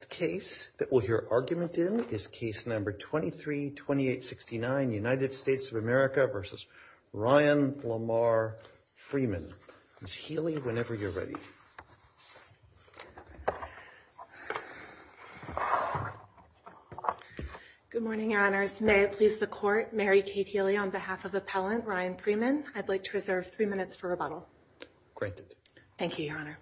The case that we'll hear argument in is case number 232869, United States of America v. Ryan Lamar Freeman. Ms. Healy, whenever you're ready. Good morning, Your Honors. May it please the Court, Mary Kate Healy on behalf of Appellant Ryan Freeman, I'd like to reserve three minutes for rebuttal. Thank you, Your Honor.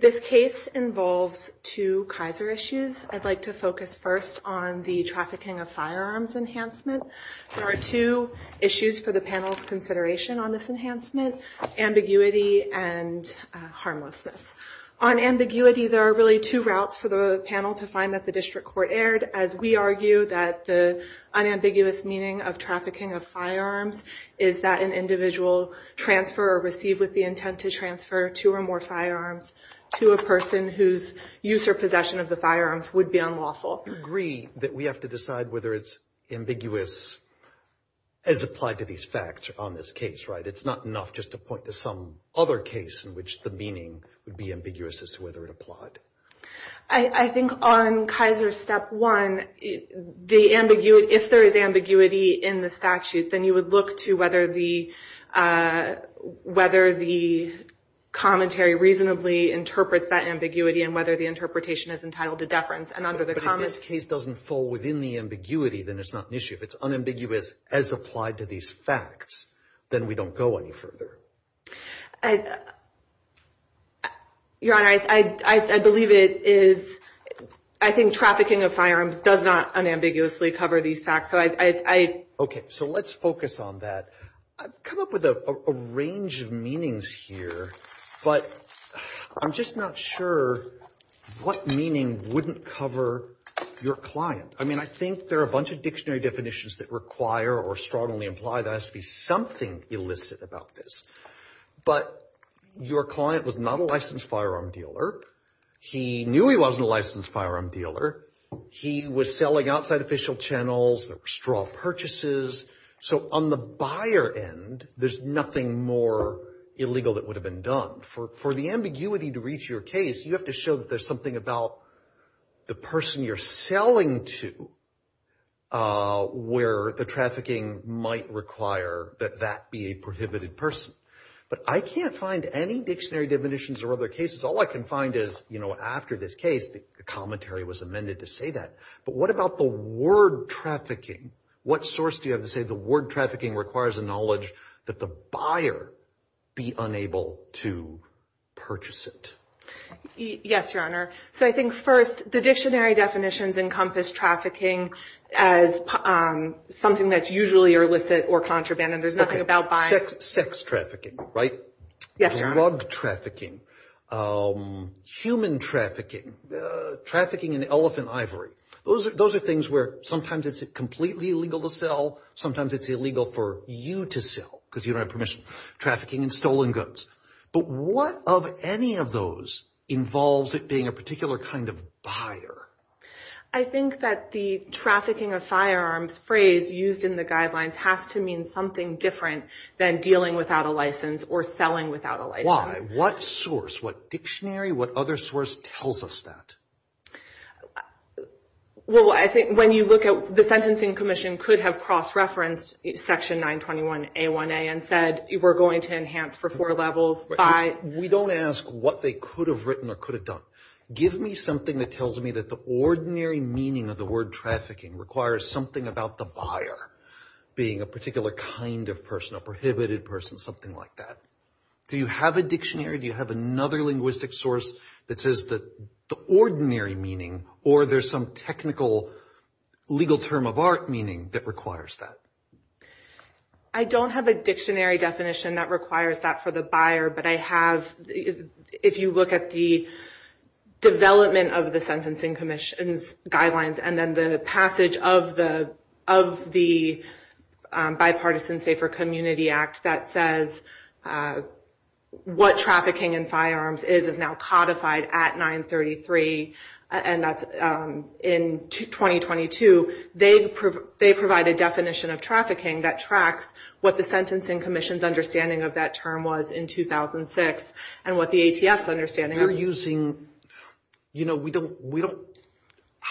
This case involves two Kaiser issues. I'd like to focus first on the trafficking of firearms enhancement. There are two issues for the panel's consideration on this enhancement, ambiguity and harmlessness. On ambiguity, there are really two routes for the panel to find that the district court erred as we argue that the unambiguous meaning of trafficking of firearms is that an individual transfer or receive with the intent to transfer two or more firearms to a person whose use or possession of the firearms would be unlawful. To what degree that we have to decide whether it's ambiguous as applied to these facts on this case, right? It's not enough just to point to some other case in which the meaning would be ambiguous as to whether it applied. I think on Kaiser step one, if there is ambiguity in the statute, then you would look to whether the commentary reasonably interprets that ambiguity and whether the interpretation is entitled to deference. But if this case doesn't fall within the ambiguity, then it's not an issue. If it's unambiguous as applied to these facts, then we don't go any further. Your Honor, I believe it is, I think trafficking of firearms does not unambiguously cover these facts. Okay, so let's focus on that. I've come up with a range of meanings here, but I'm just not sure what meaning wouldn't cover your client. I mean, I think there are a bunch of dictionary definitions that require or strongly imply there has to be something illicit about this. But your client was not a licensed firearm dealer. He knew he wasn't a licensed firearm dealer. He was selling outside official channels. There were straw purchases. So on the buyer end, there's nothing more illegal that would have been done. For the ambiguity to reach your case, you have to show that there's something about the person you're selling to where the trafficking might require that that be a prohibited person. But I can't find any dictionary definitions or other cases. All I can find is, you know, after this case, the commentary was amended to say that. But what about the word trafficking? What source do you have to say the word trafficking requires a knowledge that the buyer be unable to purchase it? Yes, Your Honor. So I think, first, the dictionary definitions encompass trafficking as something that's usually illicit or contraband, and there's nothing about buying. Sex trafficking, right? Yes, Your Honor. Drug trafficking. Human trafficking. Trafficking in elephant ivory. Those are things where sometimes it's completely illegal to sell. Sometimes it's illegal for you to sell because you don't have permission. Trafficking in stolen goods. But what of any of those involves it being a particular kind of buyer? I think that the trafficking of firearms phrase used in the guidelines has to mean something different than dealing without a license or selling without a license. Why? What source, what dictionary, what other source tells us that? Well, I think when you look at the Sentencing Commission could have cross-referenced Section 921A1A and said we're going to enhance for four levels by... We don't ask what they could have written or could have done. Give me something that tells me that the ordinary meaning of the word trafficking requires something about the buyer being a particular kind of person, a prohibited person, something like that. Do you have a dictionary? Do you have another linguistic source that says the ordinary meaning or there's some technical legal term of art meaning that requires that? I don't have a dictionary definition that requires that for the buyer, but I have... If you look at the development of the Sentencing Commission's guidelines and then the passage of the Bipartisan Safer Community Act that says what trafficking in firearms is is now codified at 933. And that's in 2022. They provide a definition of trafficking that tracks what the Sentencing Commission's understanding of that term was in 2006 and what the ATF's understanding...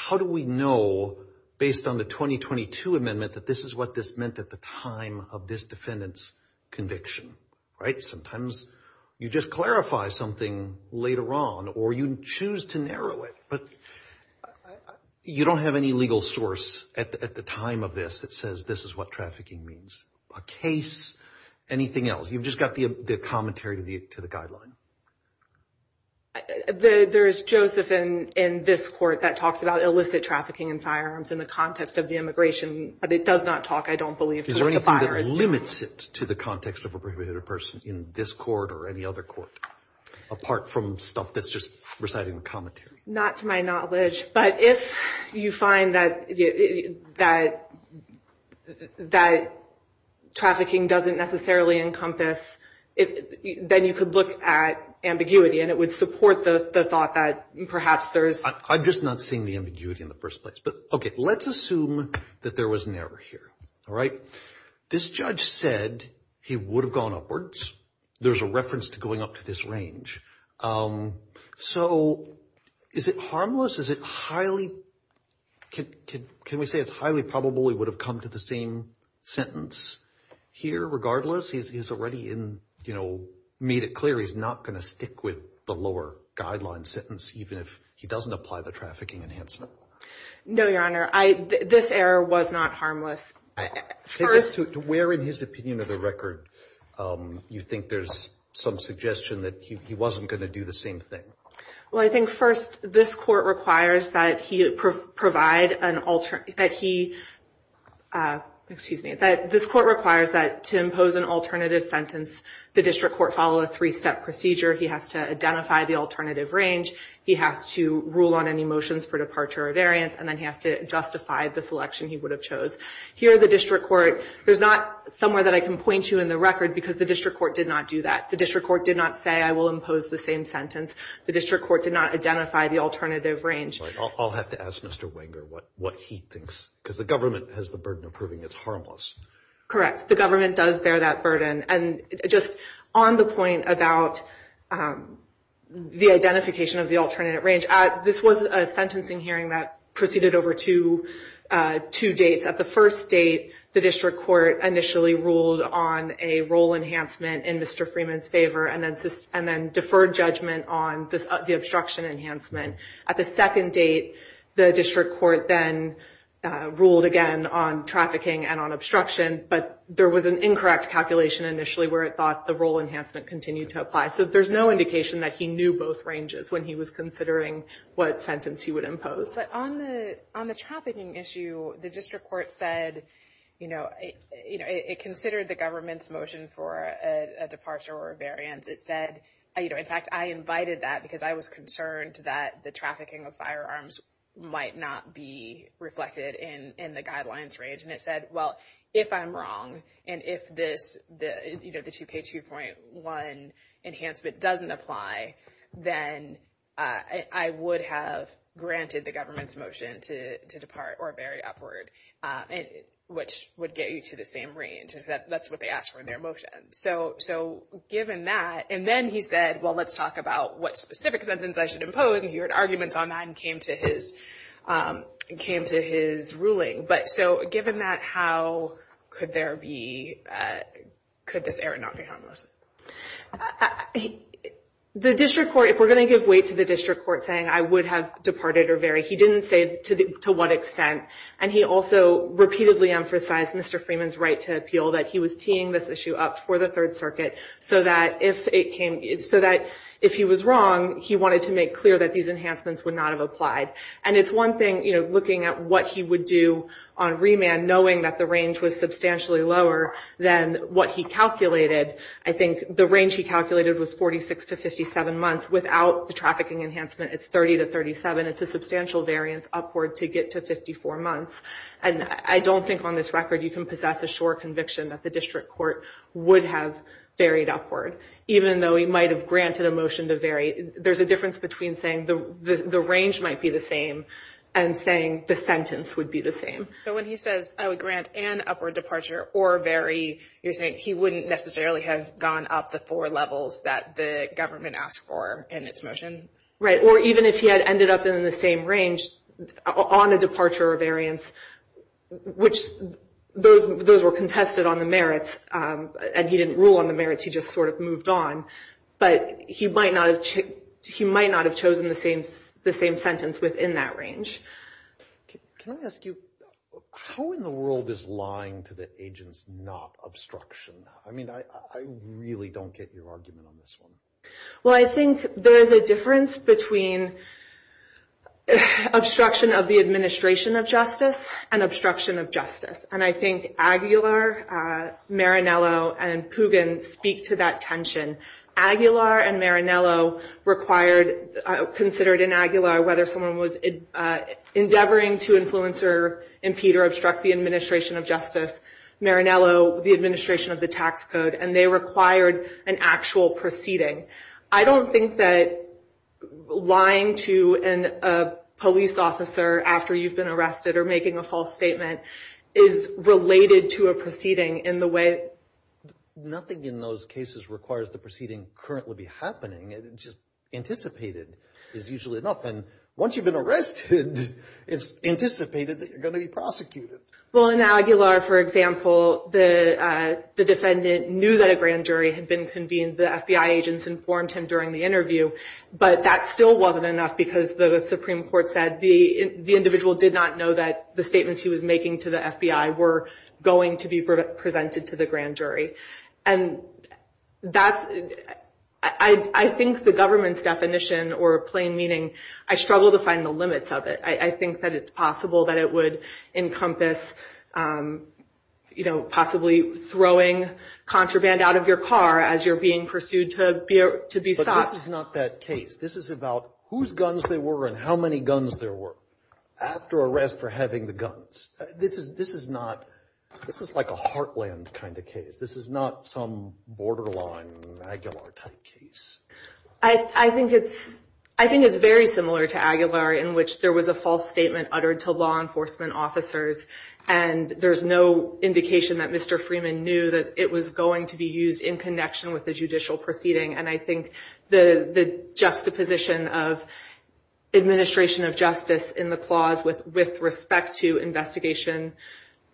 How do we know based on the 2022 amendment that this is what this meant at the time of this defendant's conviction, right? Sometimes you just clarify something later on or you choose to narrow it, but you don't have any legal source at the time of this that says this is what trafficking means, a case, anything else. You've just got the commentary to the guideline. There is Joseph in this court that talks about illicit trafficking in firearms in the context of the immigration, but it does not talk, I don't believe, to what the buyer is doing. Is there anything that limits it to the context of a prohibited person in this court or any other court apart from stuff that's just reciting the commentary? Not to my knowledge, but if you find that trafficking doesn't necessarily encompass, then you could look at ambiguity and it would support the thought that perhaps there is... I'm just not seeing the ambiguity in the first place. But, okay, let's assume that there was an error here, all right? This judge said he would have gone upwards. There's a reference to going up to this range. So is it harmless? Is it highly... Can we say it's highly probable he would have come to the same sentence here regardless? He's already made it clear he's not going to stick with the lower guideline sentence even if he doesn't apply the trafficking enhancement. No, Your Honor. This error was not harmless. Where in his opinion of the record do you think there's some suggestion that he wasn't going to do the same thing? Well, I think, first, this court requires that he provide an alternative... That he... Excuse me. That this court requires that to impose an alternative sentence, the district court follow a three-step procedure. He has to identify the alternative range. He has to rule on any motions for departure or variance. And then he has to justify the selection he would have chose. Here the district court... There's not somewhere that I can point you in the record because the district court did not do that. The district court did not say I will impose the same sentence. The district court did not identify the alternative range. I'll have to ask Mr. Wenger what he thinks because the government has the burden of proving it's harmless. Correct. The government does bear that burden. And just on the point about the identification of the alternative range. This was a sentencing hearing that proceeded over two dates. At the first date, the district court initially ruled on a role enhancement in Mr. Freeman's favor. And then deferred judgment on the obstruction enhancement. At the second date, the district court then ruled again on trafficking and on obstruction. But there was an incorrect calculation initially where it thought the role enhancement continued to apply. So there's no indication that he knew both ranges when he was considering what sentence he would impose. But on the trafficking issue, the district court said... It considered the government's motion for a departure or a variance. It said... In fact, I invited that because I was concerned that the trafficking of firearms might not be reflected in the guidelines range. And it said, well, if I'm wrong and if the 2K2.1 enhancement doesn't apply, then I would have granted the government's motion to depart or vary upward. Which would get you to the same range. That's what they asked for in their motion. So given that... And then he said, well, let's talk about what specific sentence I should impose. And he heard arguments on that and came to his ruling. But so given that, how could there be... Could this error not be harmless? The district court... If we're going to give weight to the district court saying I would have departed or varied, he didn't say to what extent. And he also repeatedly emphasized Mr. Freeman's right to appeal that he was teeing this issue up for the Third Circuit so that if it came... So that if he was wrong, he wanted to make clear that these enhancements would not have applied. And it's one thing looking at what he would do on remand knowing that the range was substantially lower than what he calculated. I think the range he calculated was 46 to 57 months. Without the trafficking enhancement, it's 30 to 37. It's a substantial variance upward to get to 54 months. And I don't think on this record you can possess a sure conviction that the district court would have varied upward. Even though he might have granted a motion to vary. There's a difference between saying the range might be the same and saying the sentence would be the same. So when he says I would grant an upward departure or vary, you're saying he wouldn't necessarily have gone up the four levels that the government asked for in its motion? Right, or even if he had ended up in the same range on a departure or variance, which those were contested on the merits. And he didn't rule on the merits. He just sort of moved on. But he might not have chosen the same sentence within that range. Can I ask you, how in the world is lying to the agents not obstruction? I mean, I really don't get your argument on this one. Well, I think there is a difference between obstruction of the administration of justice and obstruction of justice. And I think Aguilar, Marinello, and Pugin speak to that tension. Aguilar and Marinello considered in Aguilar whether someone was endeavoring to influence or impede or obstruct the administration of justice. Marinello, the administration of the tax code. And they required an actual proceeding. I don't think that lying to a police officer after you've been arrested or making a false statement is related to a proceeding in the way. Nothing in those cases requires the proceeding currently be happening. It's just anticipated is usually enough. And once you've been arrested, it's anticipated that you're going to be prosecuted. Well, in Aguilar, for example, the defendant knew that a grand jury had been convened. The FBI agents informed him during the interview. But that still wasn't enough because the Supreme Court said the individual did not know that the statements he was making to the FBI were going to be presented to the grand jury. And I think the government's definition, or plain meaning, I struggle to find the limits of it. I think that it's possible that it would encompass possibly throwing contraband out of your car as you're being pursued to be sought. But this is not that case. This is about whose guns they were and how many guns there were after arrest for having the guns. This is like a heartland kind of case. This is not some borderline Aguilar type case. I think it's very similar to Aguilar in which there was a false statement uttered to law enforcement officers. And there's no indication that Mr. Freeman knew that it was going to be used in connection with the judicial proceeding. And I think the juxtaposition of administration of justice in the clause with respect to investigation,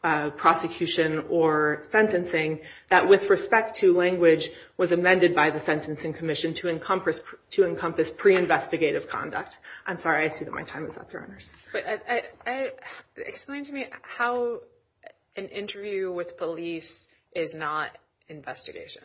prosecution, or sentencing, that with respect to language was amended by the Sentencing Commission to encompass pre-investigative conduct. I'm sorry. I see that my time is up, Your Honors. Explain to me how an interview with police is not investigation.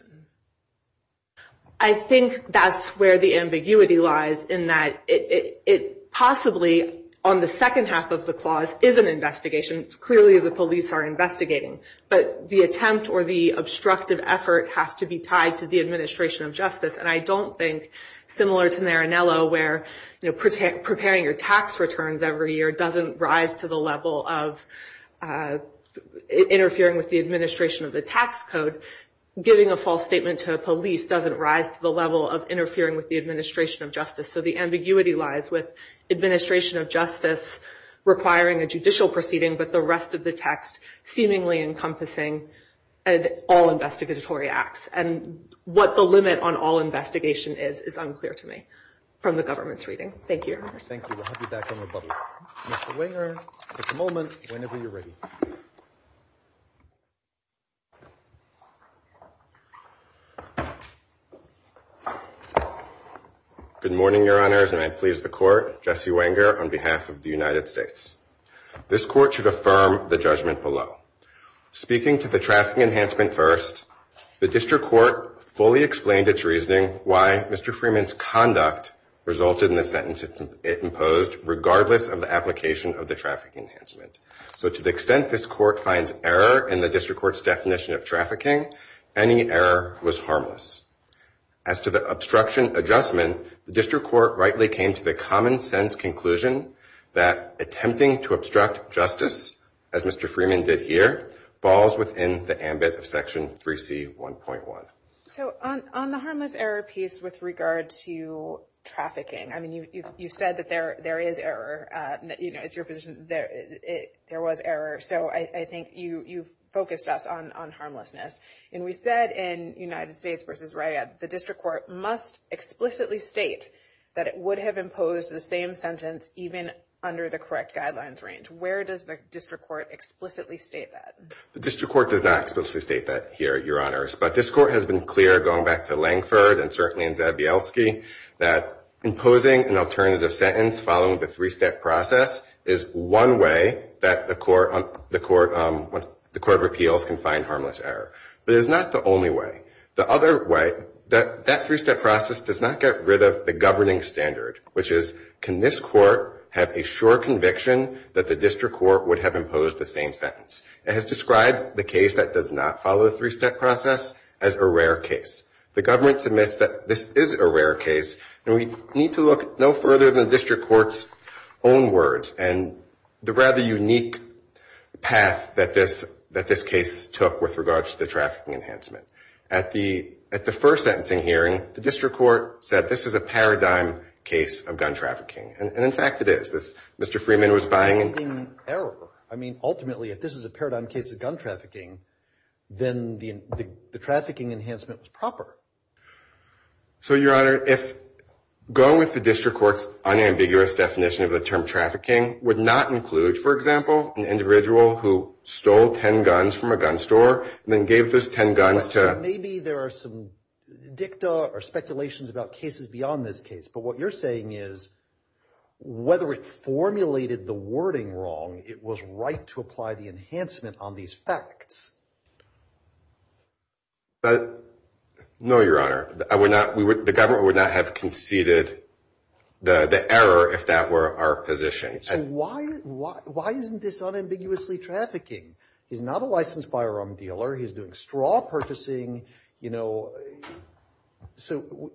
I think that's where the ambiguity lies in that it possibly, on the second half of the clause, is an investigation. Clearly, the police are investigating. But the attempt or the obstructive effort has to be tied to the administration of justice. And I don't think, similar to Marinello, where preparing your tax returns every year doesn't rise to the level of interfering with the administration of the tax code, giving a false statement to the police doesn't rise to the level of interfering with the administration of justice. So the ambiguity lies with administration of justice requiring a judicial proceeding, but the rest of the text seemingly encompassing all investigatory acts. And what the limit on all investigation is is unclear to me from the government's reading. Thank you, Your Honors. Thank you. I'll have you back on the bubble. Mr. Wenger, at the moment, whenever you're ready. Good morning, Your Honors, and I please the Court. Jesse Wenger on behalf of the United States. This Court should affirm the judgment below. Speaking to the traffic enhancement first, the District Court fully explained its reasoning why Mr. Freeman's conduct resulted in the sentence it imposed, regardless of the application of the traffic enhancement. So to the extent this Court finds error in the District Court's definition of trafficking, any error was harmless. As to the obstruction adjustment, the District Court rightly came to the common-sense conclusion that attempting to obstruct justice, as Mr. Freeman did here, falls within the ambit of Section 3C1.1. So on the harmless error piece with regard to trafficking, I mean, you've said that there is error. You know, it's your position that there was error. So I think you've focused us on harmlessness. And we said in United States v. RIA, the District Court must explicitly state that it would have imposed the same sentence even under the correct guidelines range. Where does the District Court explicitly state that? The District Court does not explicitly state that here, Your Honors. But this Court has been clear, going back to Langford and certainly in Zabielski, that imposing an alternative sentence following the three-step process is one way that the Court of Appeals can find harmless error. But it is not the only way. The other way, that three-step process does not get rid of the governing standard, which is, can this Court have a sure conviction that the District Court would have imposed the same sentence? It has described the case that does not follow the three-step process as a rare case. The government submits that this is a rare case, and we need to look no further than the District Court's own words and the rather unique path that this case took with regard to the trafficking enhancement. At the first sentencing hearing, the District Court said this is a paradigm case of gun trafficking. And, in fact, it is. Mr. Freeman was buying and – Enhancing error. I mean, ultimately, if this is a paradigm case of gun trafficking, then the trafficking enhancement was proper. So, Your Honor, if going with the District Court's unambiguous definition of the term trafficking would not include, for example, an individual who stole 10 guns from a gun store and then gave those 10 guns to – Maybe there are some dicta or speculations about cases beyond this case. But what you're saying is, whether it formulated the wording wrong, it was right to apply the enhancement on these facts. No, Your Honor. I would not – the government would not have conceded the error if that were our position. So why isn't this unambiguously trafficking? He's not a licensed firearm dealer. He's doing straw purchasing, you know. So,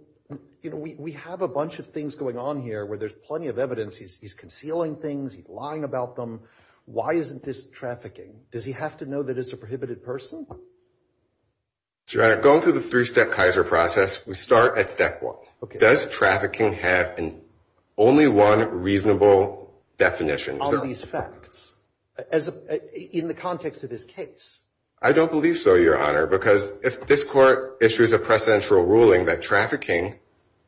you know, we have a bunch of things going on here where there's plenty of evidence. He's concealing things. He's lying about them. Why isn't this trafficking? Does he have to know that it's a prohibited person? Your Honor, going through the three-step Kaiser process, we start at step one. Does trafficking have only one reasonable definition? On these facts. In the context of this case. I don't believe so, Your Honor, because if this court issues a precedential ruling that trafficking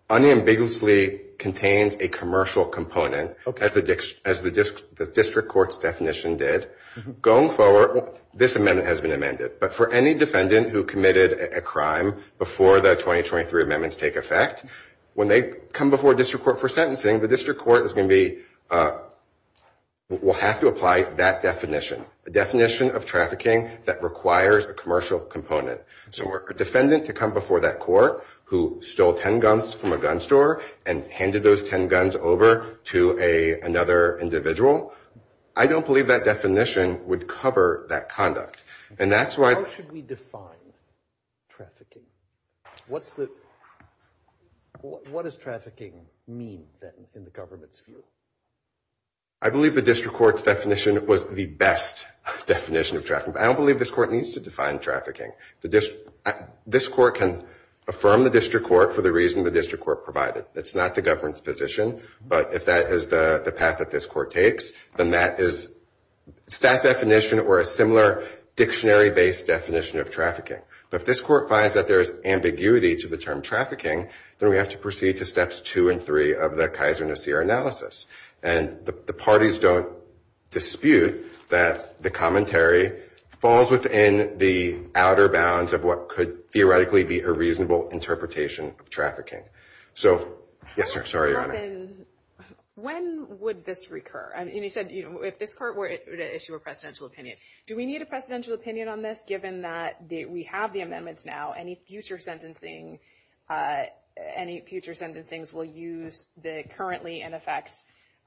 unambiguously contains a commercial component, as the district court's definition did, going forward, this amendment has been amended. But for any defendant who committed a crime before the 2023 amendments take effect, when they come before district court for sentencing, the district court is going to be – will have to apply that definition. The definition of trafficking that requires a commercial component. So for a defendant to come before that court who stole 10 guns from a gun store and handed those 10 guns over to another individual, I don't believe that definition would cover that conduct. And that's why – How should we define trafficking? What's the – what does trafficking mean, then, in the government's view? I believe the district court's definition was the best definition of trafficking. But I don't believe this court needs to define trafficking. This court can affirm the district court for the reason the district court provided. It's not the government's position. But if that is the path that this court takes, then that is – it's that definition or a similar dictionary-based definition of trafficking. But if this court finds that there is ambiguity to the term trafficking, then we have to proceed to steps two and three of the Kaiser-Nosir analysis. And the parties don't dispute that the commentary falls within the outer bounds of what could theoretically be a reasonable interpretation of trafficking. So – yes, sir. Sorry, Your Honor. When would this recur? And you said if this court were to issue a presidential opinion. Do we need a presidential opinion on this, given that we have the amendments now? Any future sentencing – any future sentencings will use the currently in effect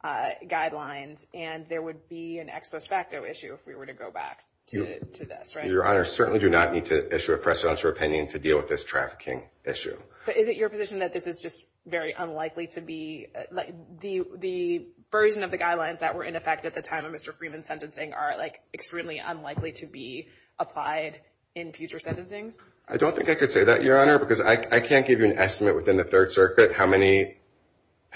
guidelines, and there would be an ex post facto issue if we were to go back to this, right? Your Honor, certainly do not need to issue a presidential opinion to deal with this trafficking issue. But is it your position that this is just very unlikely to be – the version of the guidelines that were in effect at the time of Mr. Freeman's sentencing are, like, extremely unlikely to be applied in future sentencings? I don't think I could say that, Your Honor, because I can't give you an estimate within the Third Circuit how many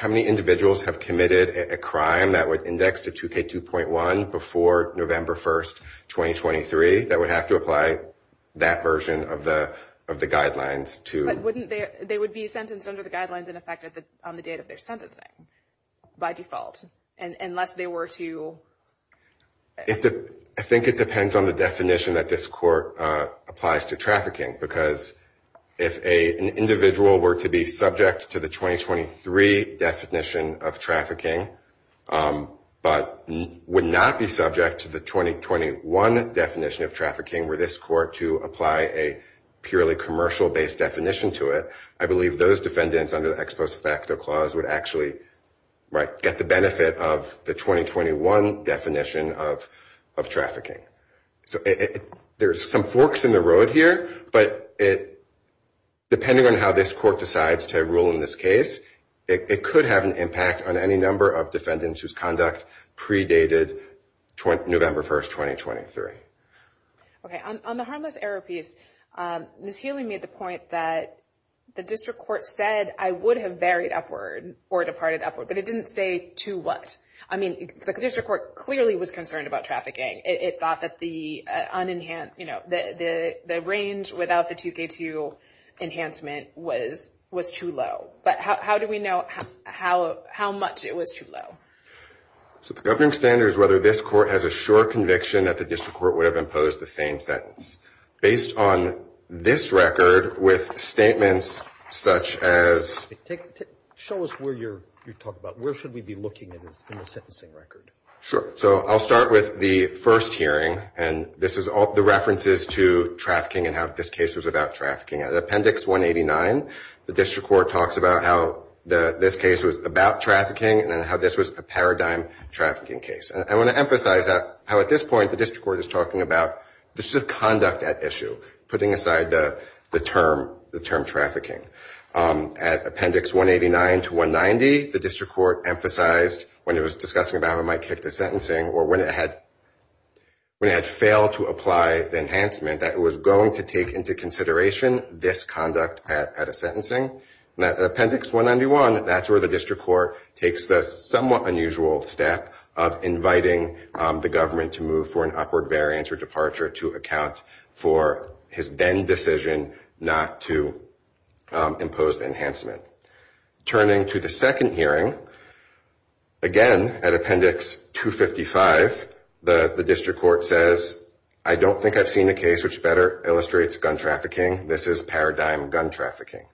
individuals have committed a crime that would index to 2K2.1 before November 1st, 2023, that would have to apply that version of the guidelines to – But wouldn't they – they would be sentenced under the guidelines in effect on the date of their sentencing by default, unless they were to – I think it depends on the definition that this court applies to trafficking, because if an individual were to be subject to the 2023 definition of trafficking but would not be subject to the 2021 definition of trafficking were this court to apply a purely commercial-based definition to it, I believe those defendants under the ex post facto clause would actually get the benefit of the 2021 definition of trafficking. So there's some forks in the road here, but depending on how this court decides to rule in this case, it could have an impact on any number of defendants whose conduct predated November 1st, 2023. Okay. On the harmless error piece, Ms. Healy made the point that the district court said, I would have varied upward or departed upward, but it didn't say to what. I mean, the district court clearly was concerned about trafficking. It thought that the range without the 2K2 enhancement was too low. But how do we know how much it was too low? So the governing standard is whether this court has a sure conviction that the district court would have imposed the same sentence. Based on this record with statements such as – Show us where you're talking about. Where should we be looking in the sentencing record? Sure. So I'll start with the first hearing, and this is the references to trafficking and how this case was about trafficking. At Appendix 189, the district court talks about how this case was about trafficking and how this was a paradigm trafficking case. And I want to emphasize how at this point the district court is talking about the conduct at issue, putting aside the term trafficking. At Appendix 189 to 190, the district court emphasized when it was discussing about how it might kick the sentencing or when it had failed to apply the enhancement that it was going to take into consideration this conduct at a sentencing. At Appendix 191, that's where the district court takes the somewhat unusual step of inviting the government to move for an upward variance or departure to account for his then decision not to impose the enhancement. Turning to the second hearing, again at Appendix 255, the district court says, I don't think I've seen a case which better illustrates gun trafficking. This is paradigm gun trafficking.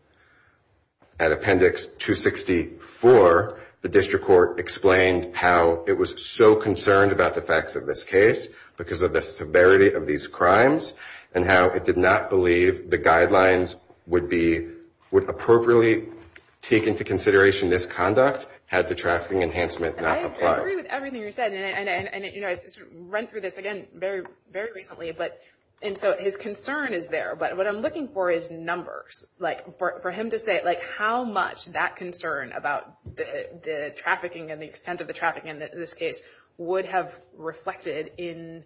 At Appendix 264, the district court explained how it was so concerned about the facts of this case because of the severity of these crimes and how it did not believe the guidelines would appropriately take into consideration this conduct had the trafficking enhancement not applied. I agree with everything you said. I ran through this again very recently. And so his concern is there, but what I'm looking for is numbers. For him to say how much that concern about the trafficking and the extent of the trafficking in this case would have reflected in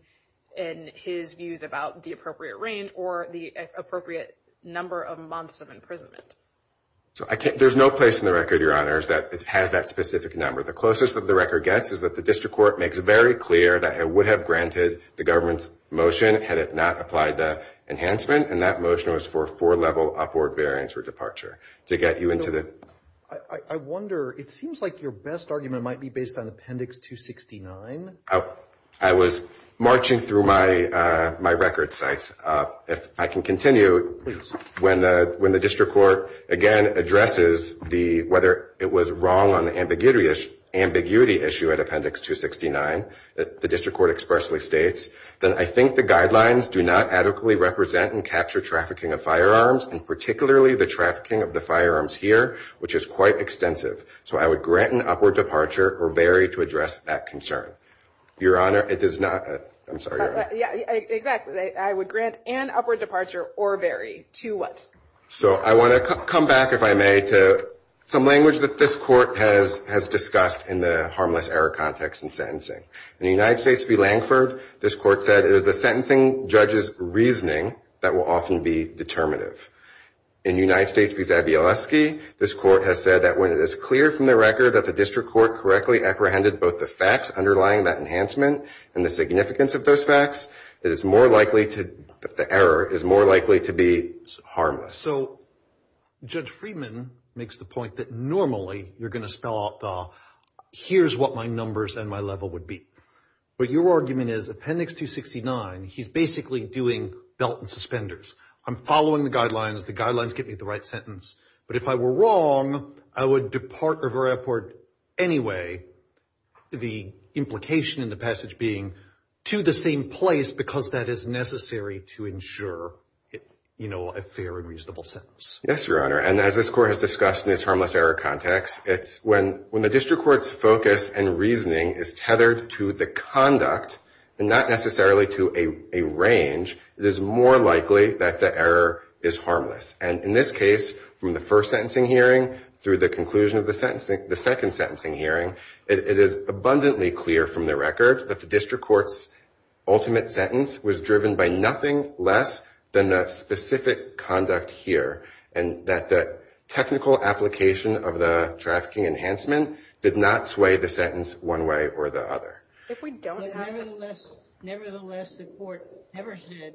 his views about the appropriate range or the appropriate number of months of imprisonment. There's no place in the record, Your Honors, that has that specific number. The closest that the record gets is that the district court makes it very clear that it would have granted the government's motion had it not applied the enhancement. And that motion was for a four-level upward variance or departure to get you into the... I wonder, it seems like your best argument might be based on Appendix 269. I was marching through my record sites. If I can continue, when the district court again addresses whether it was wrong on the ambiguity issue at Appendix 269, the district court expressly states, that I think the guidelines do not adequately represent and capture trafficking of firearms, and particularly the trafficking of the firearms here, which is quite extensive. So I would grant an upward departure or vary to address that concern. Your Honor, it does not... I'm sorry, Your Honor. Yeah, exactly. I would grant an upward departure or vary. To what? So I want to come back, if I may, to some language that this court has discussed in the harmless error context in sentencing. In the United States v. Lankford, this court said it is the sentencing judge's reasoning that will often be determinative. In the United States v. Zabielewski, this court has said that when it is clear from the record that the district court correctly apprehended both the facts underlying that enhancement and the significance of those facts, it is more likely to... the error is more likely to be harmless. So Judge Friedman makes the point that normally you're going to spell out the, here's what my numbers and my level would be. But your argument is Appendix 269, he's basically doing belt and suspenders. I'm following the guidelines. The guidelines get me the right sentence. But if I were wrong, I would depart or vary upward anyway, the implication in the passage being to the same place because that is necessary to ensure a fair and reasonable sentence. Yes, Your Honor. And as this court has discussed in its harmless error context, it is more likely to the conduct and not necessarily to a range, it is more likely that the error is harmless. And in this case, from the first sentencing hearing through the conclusion of the second sentencing hearing, it is abundantly clear from the record that the district court's ultimate sentence was driven by nothing less than the specific conduct here. And that the technical application of the trafficking enhancement did not sway the sentence one way or the other. Nevertheless, the court never said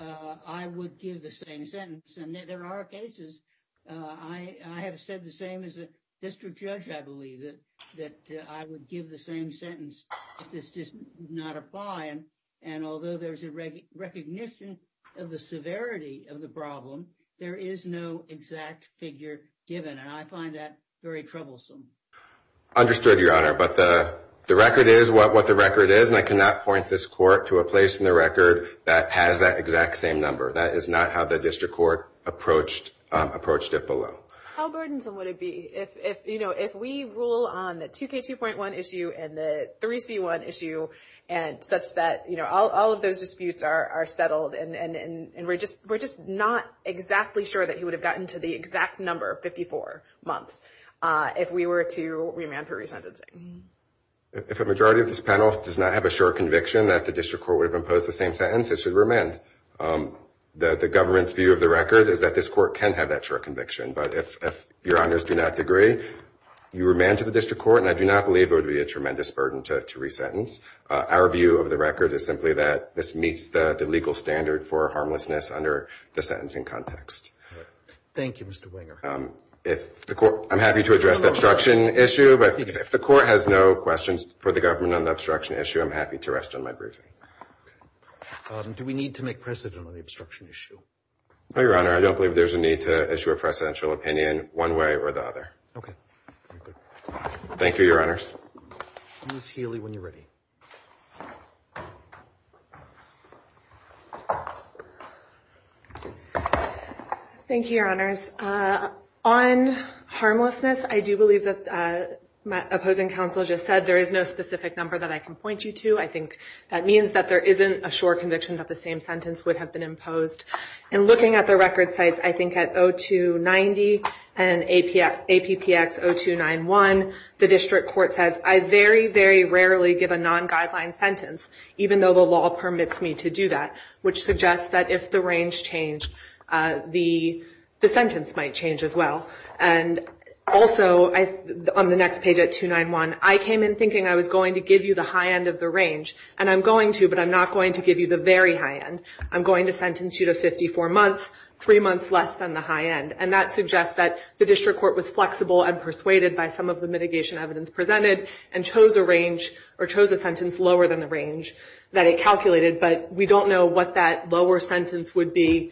I would give the same sentence. And there are cases I have said the same as a district judge. I believe that I would give the same sentence if this does not apply. And although there's a recognition of the severity of the problem, there is no exact figure given. And I find that very troublesome. Understood, Your Honor. But the record is what the record is, and I cannot point this court to a place in the record that has that exact same number. That is not how the district court approached it below. How burdensome would it be if we rule on the 2K2.1 issue and the 3C1 issue and such that all of those disputes are settled and we're just not exactly sure that he would have gotten to the exact number 54. If we were to remand for resentencing? If a majority of this panel does not have a short conviction that the district court would have imposed the same sentence, it should remand. The government's view of the record is that this court can have that short conviction. But if Your Honors do not agree, you remand to the district court, and I do not believe it would be a tremendous burden to resentence. Our view of the record is simply that this meets the legal standard for harmlessness under the sentencing context. Thank you, Mr. Winger. I'm happy to address the obstruction issue, but if the court has no questions for the government on the obstruction issue, I'm happy to rest on my briefing. Do we need to make precedent on the obstruction issue? Your Honor, I don't believe there's a need to issue a precedential opinion one way or the other. Thank you, Your Honors. Thank you, Your Honors. On harmlessness, I do believe that my opposing counsel just said there is no specific number that I can point you to. I think that means that there isn't a short conviction that the same sentence would have been imposed. And looking at the record sites, I think at 0290 and APPX 0291, the district court says, I very, very rarely give a non-guideline sentence, even though the law permits me to do that, which suggests that if the range changed, the sentence might change as well. And also, on the next page at 291, I came in thinking I was going to give you the high end of the range, and I'm going to, but I'm not going to give you the very high end. I'm going to sentence you to 54 months, three months less than the high end. And that suggests that the district court was flexible and persuaded by some of the mitigation evidence presented and chose a range or chose a sentence lower than the range that it calculated, but we don't know what that lower sentence would be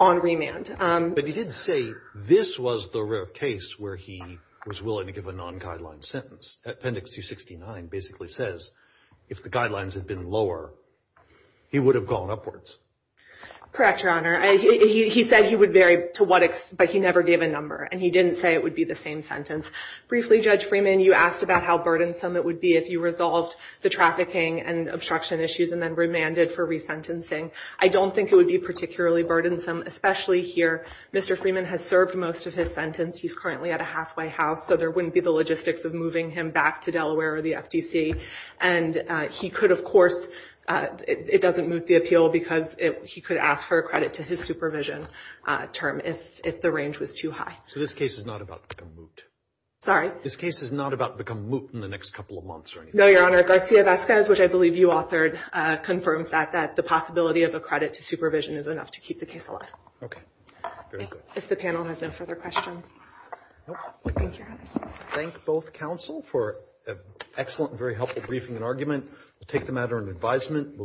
on remand. But he did say this was the rare case where he was willing to give a non-guideline sentence. Appendix 269 basically says if the guidelines had been lower, he would have gone upwards. Correct, Your Honor. He said he would vary to what, but he never gave a number, and he didn't say it would be the same sentence. Briefly, Judge Freeman, you asked about how burdensome it would be if you resolved the trafficking and obstruction issues and then remanded for resentencing. I don't think it would be particularly burdensome, especially here. Mr. Freeman has served most of his sentence. He's currently at a halfway house, so there wouldn't be the logistics of moving him back to Delaware or the FTC. And he could, of course, it doesn't moot the appeal because he could ask for a credit to his supervision term if the range was too high. So this case is not about to become moot? Sorry? This case is not about to become moot in the next couple of months or anything? No, Your Honor. Garcia-Vezquez, which I believe you authored, confirms that, that the possibility of a credit to supervision is enough to keep the case alive. Okay. Very good. If the panel has no further questions. Nope. Thank you, Your Honor. Thank both counsel for an excellent and very helpful briefing and argument. We'll take the matter in advisement.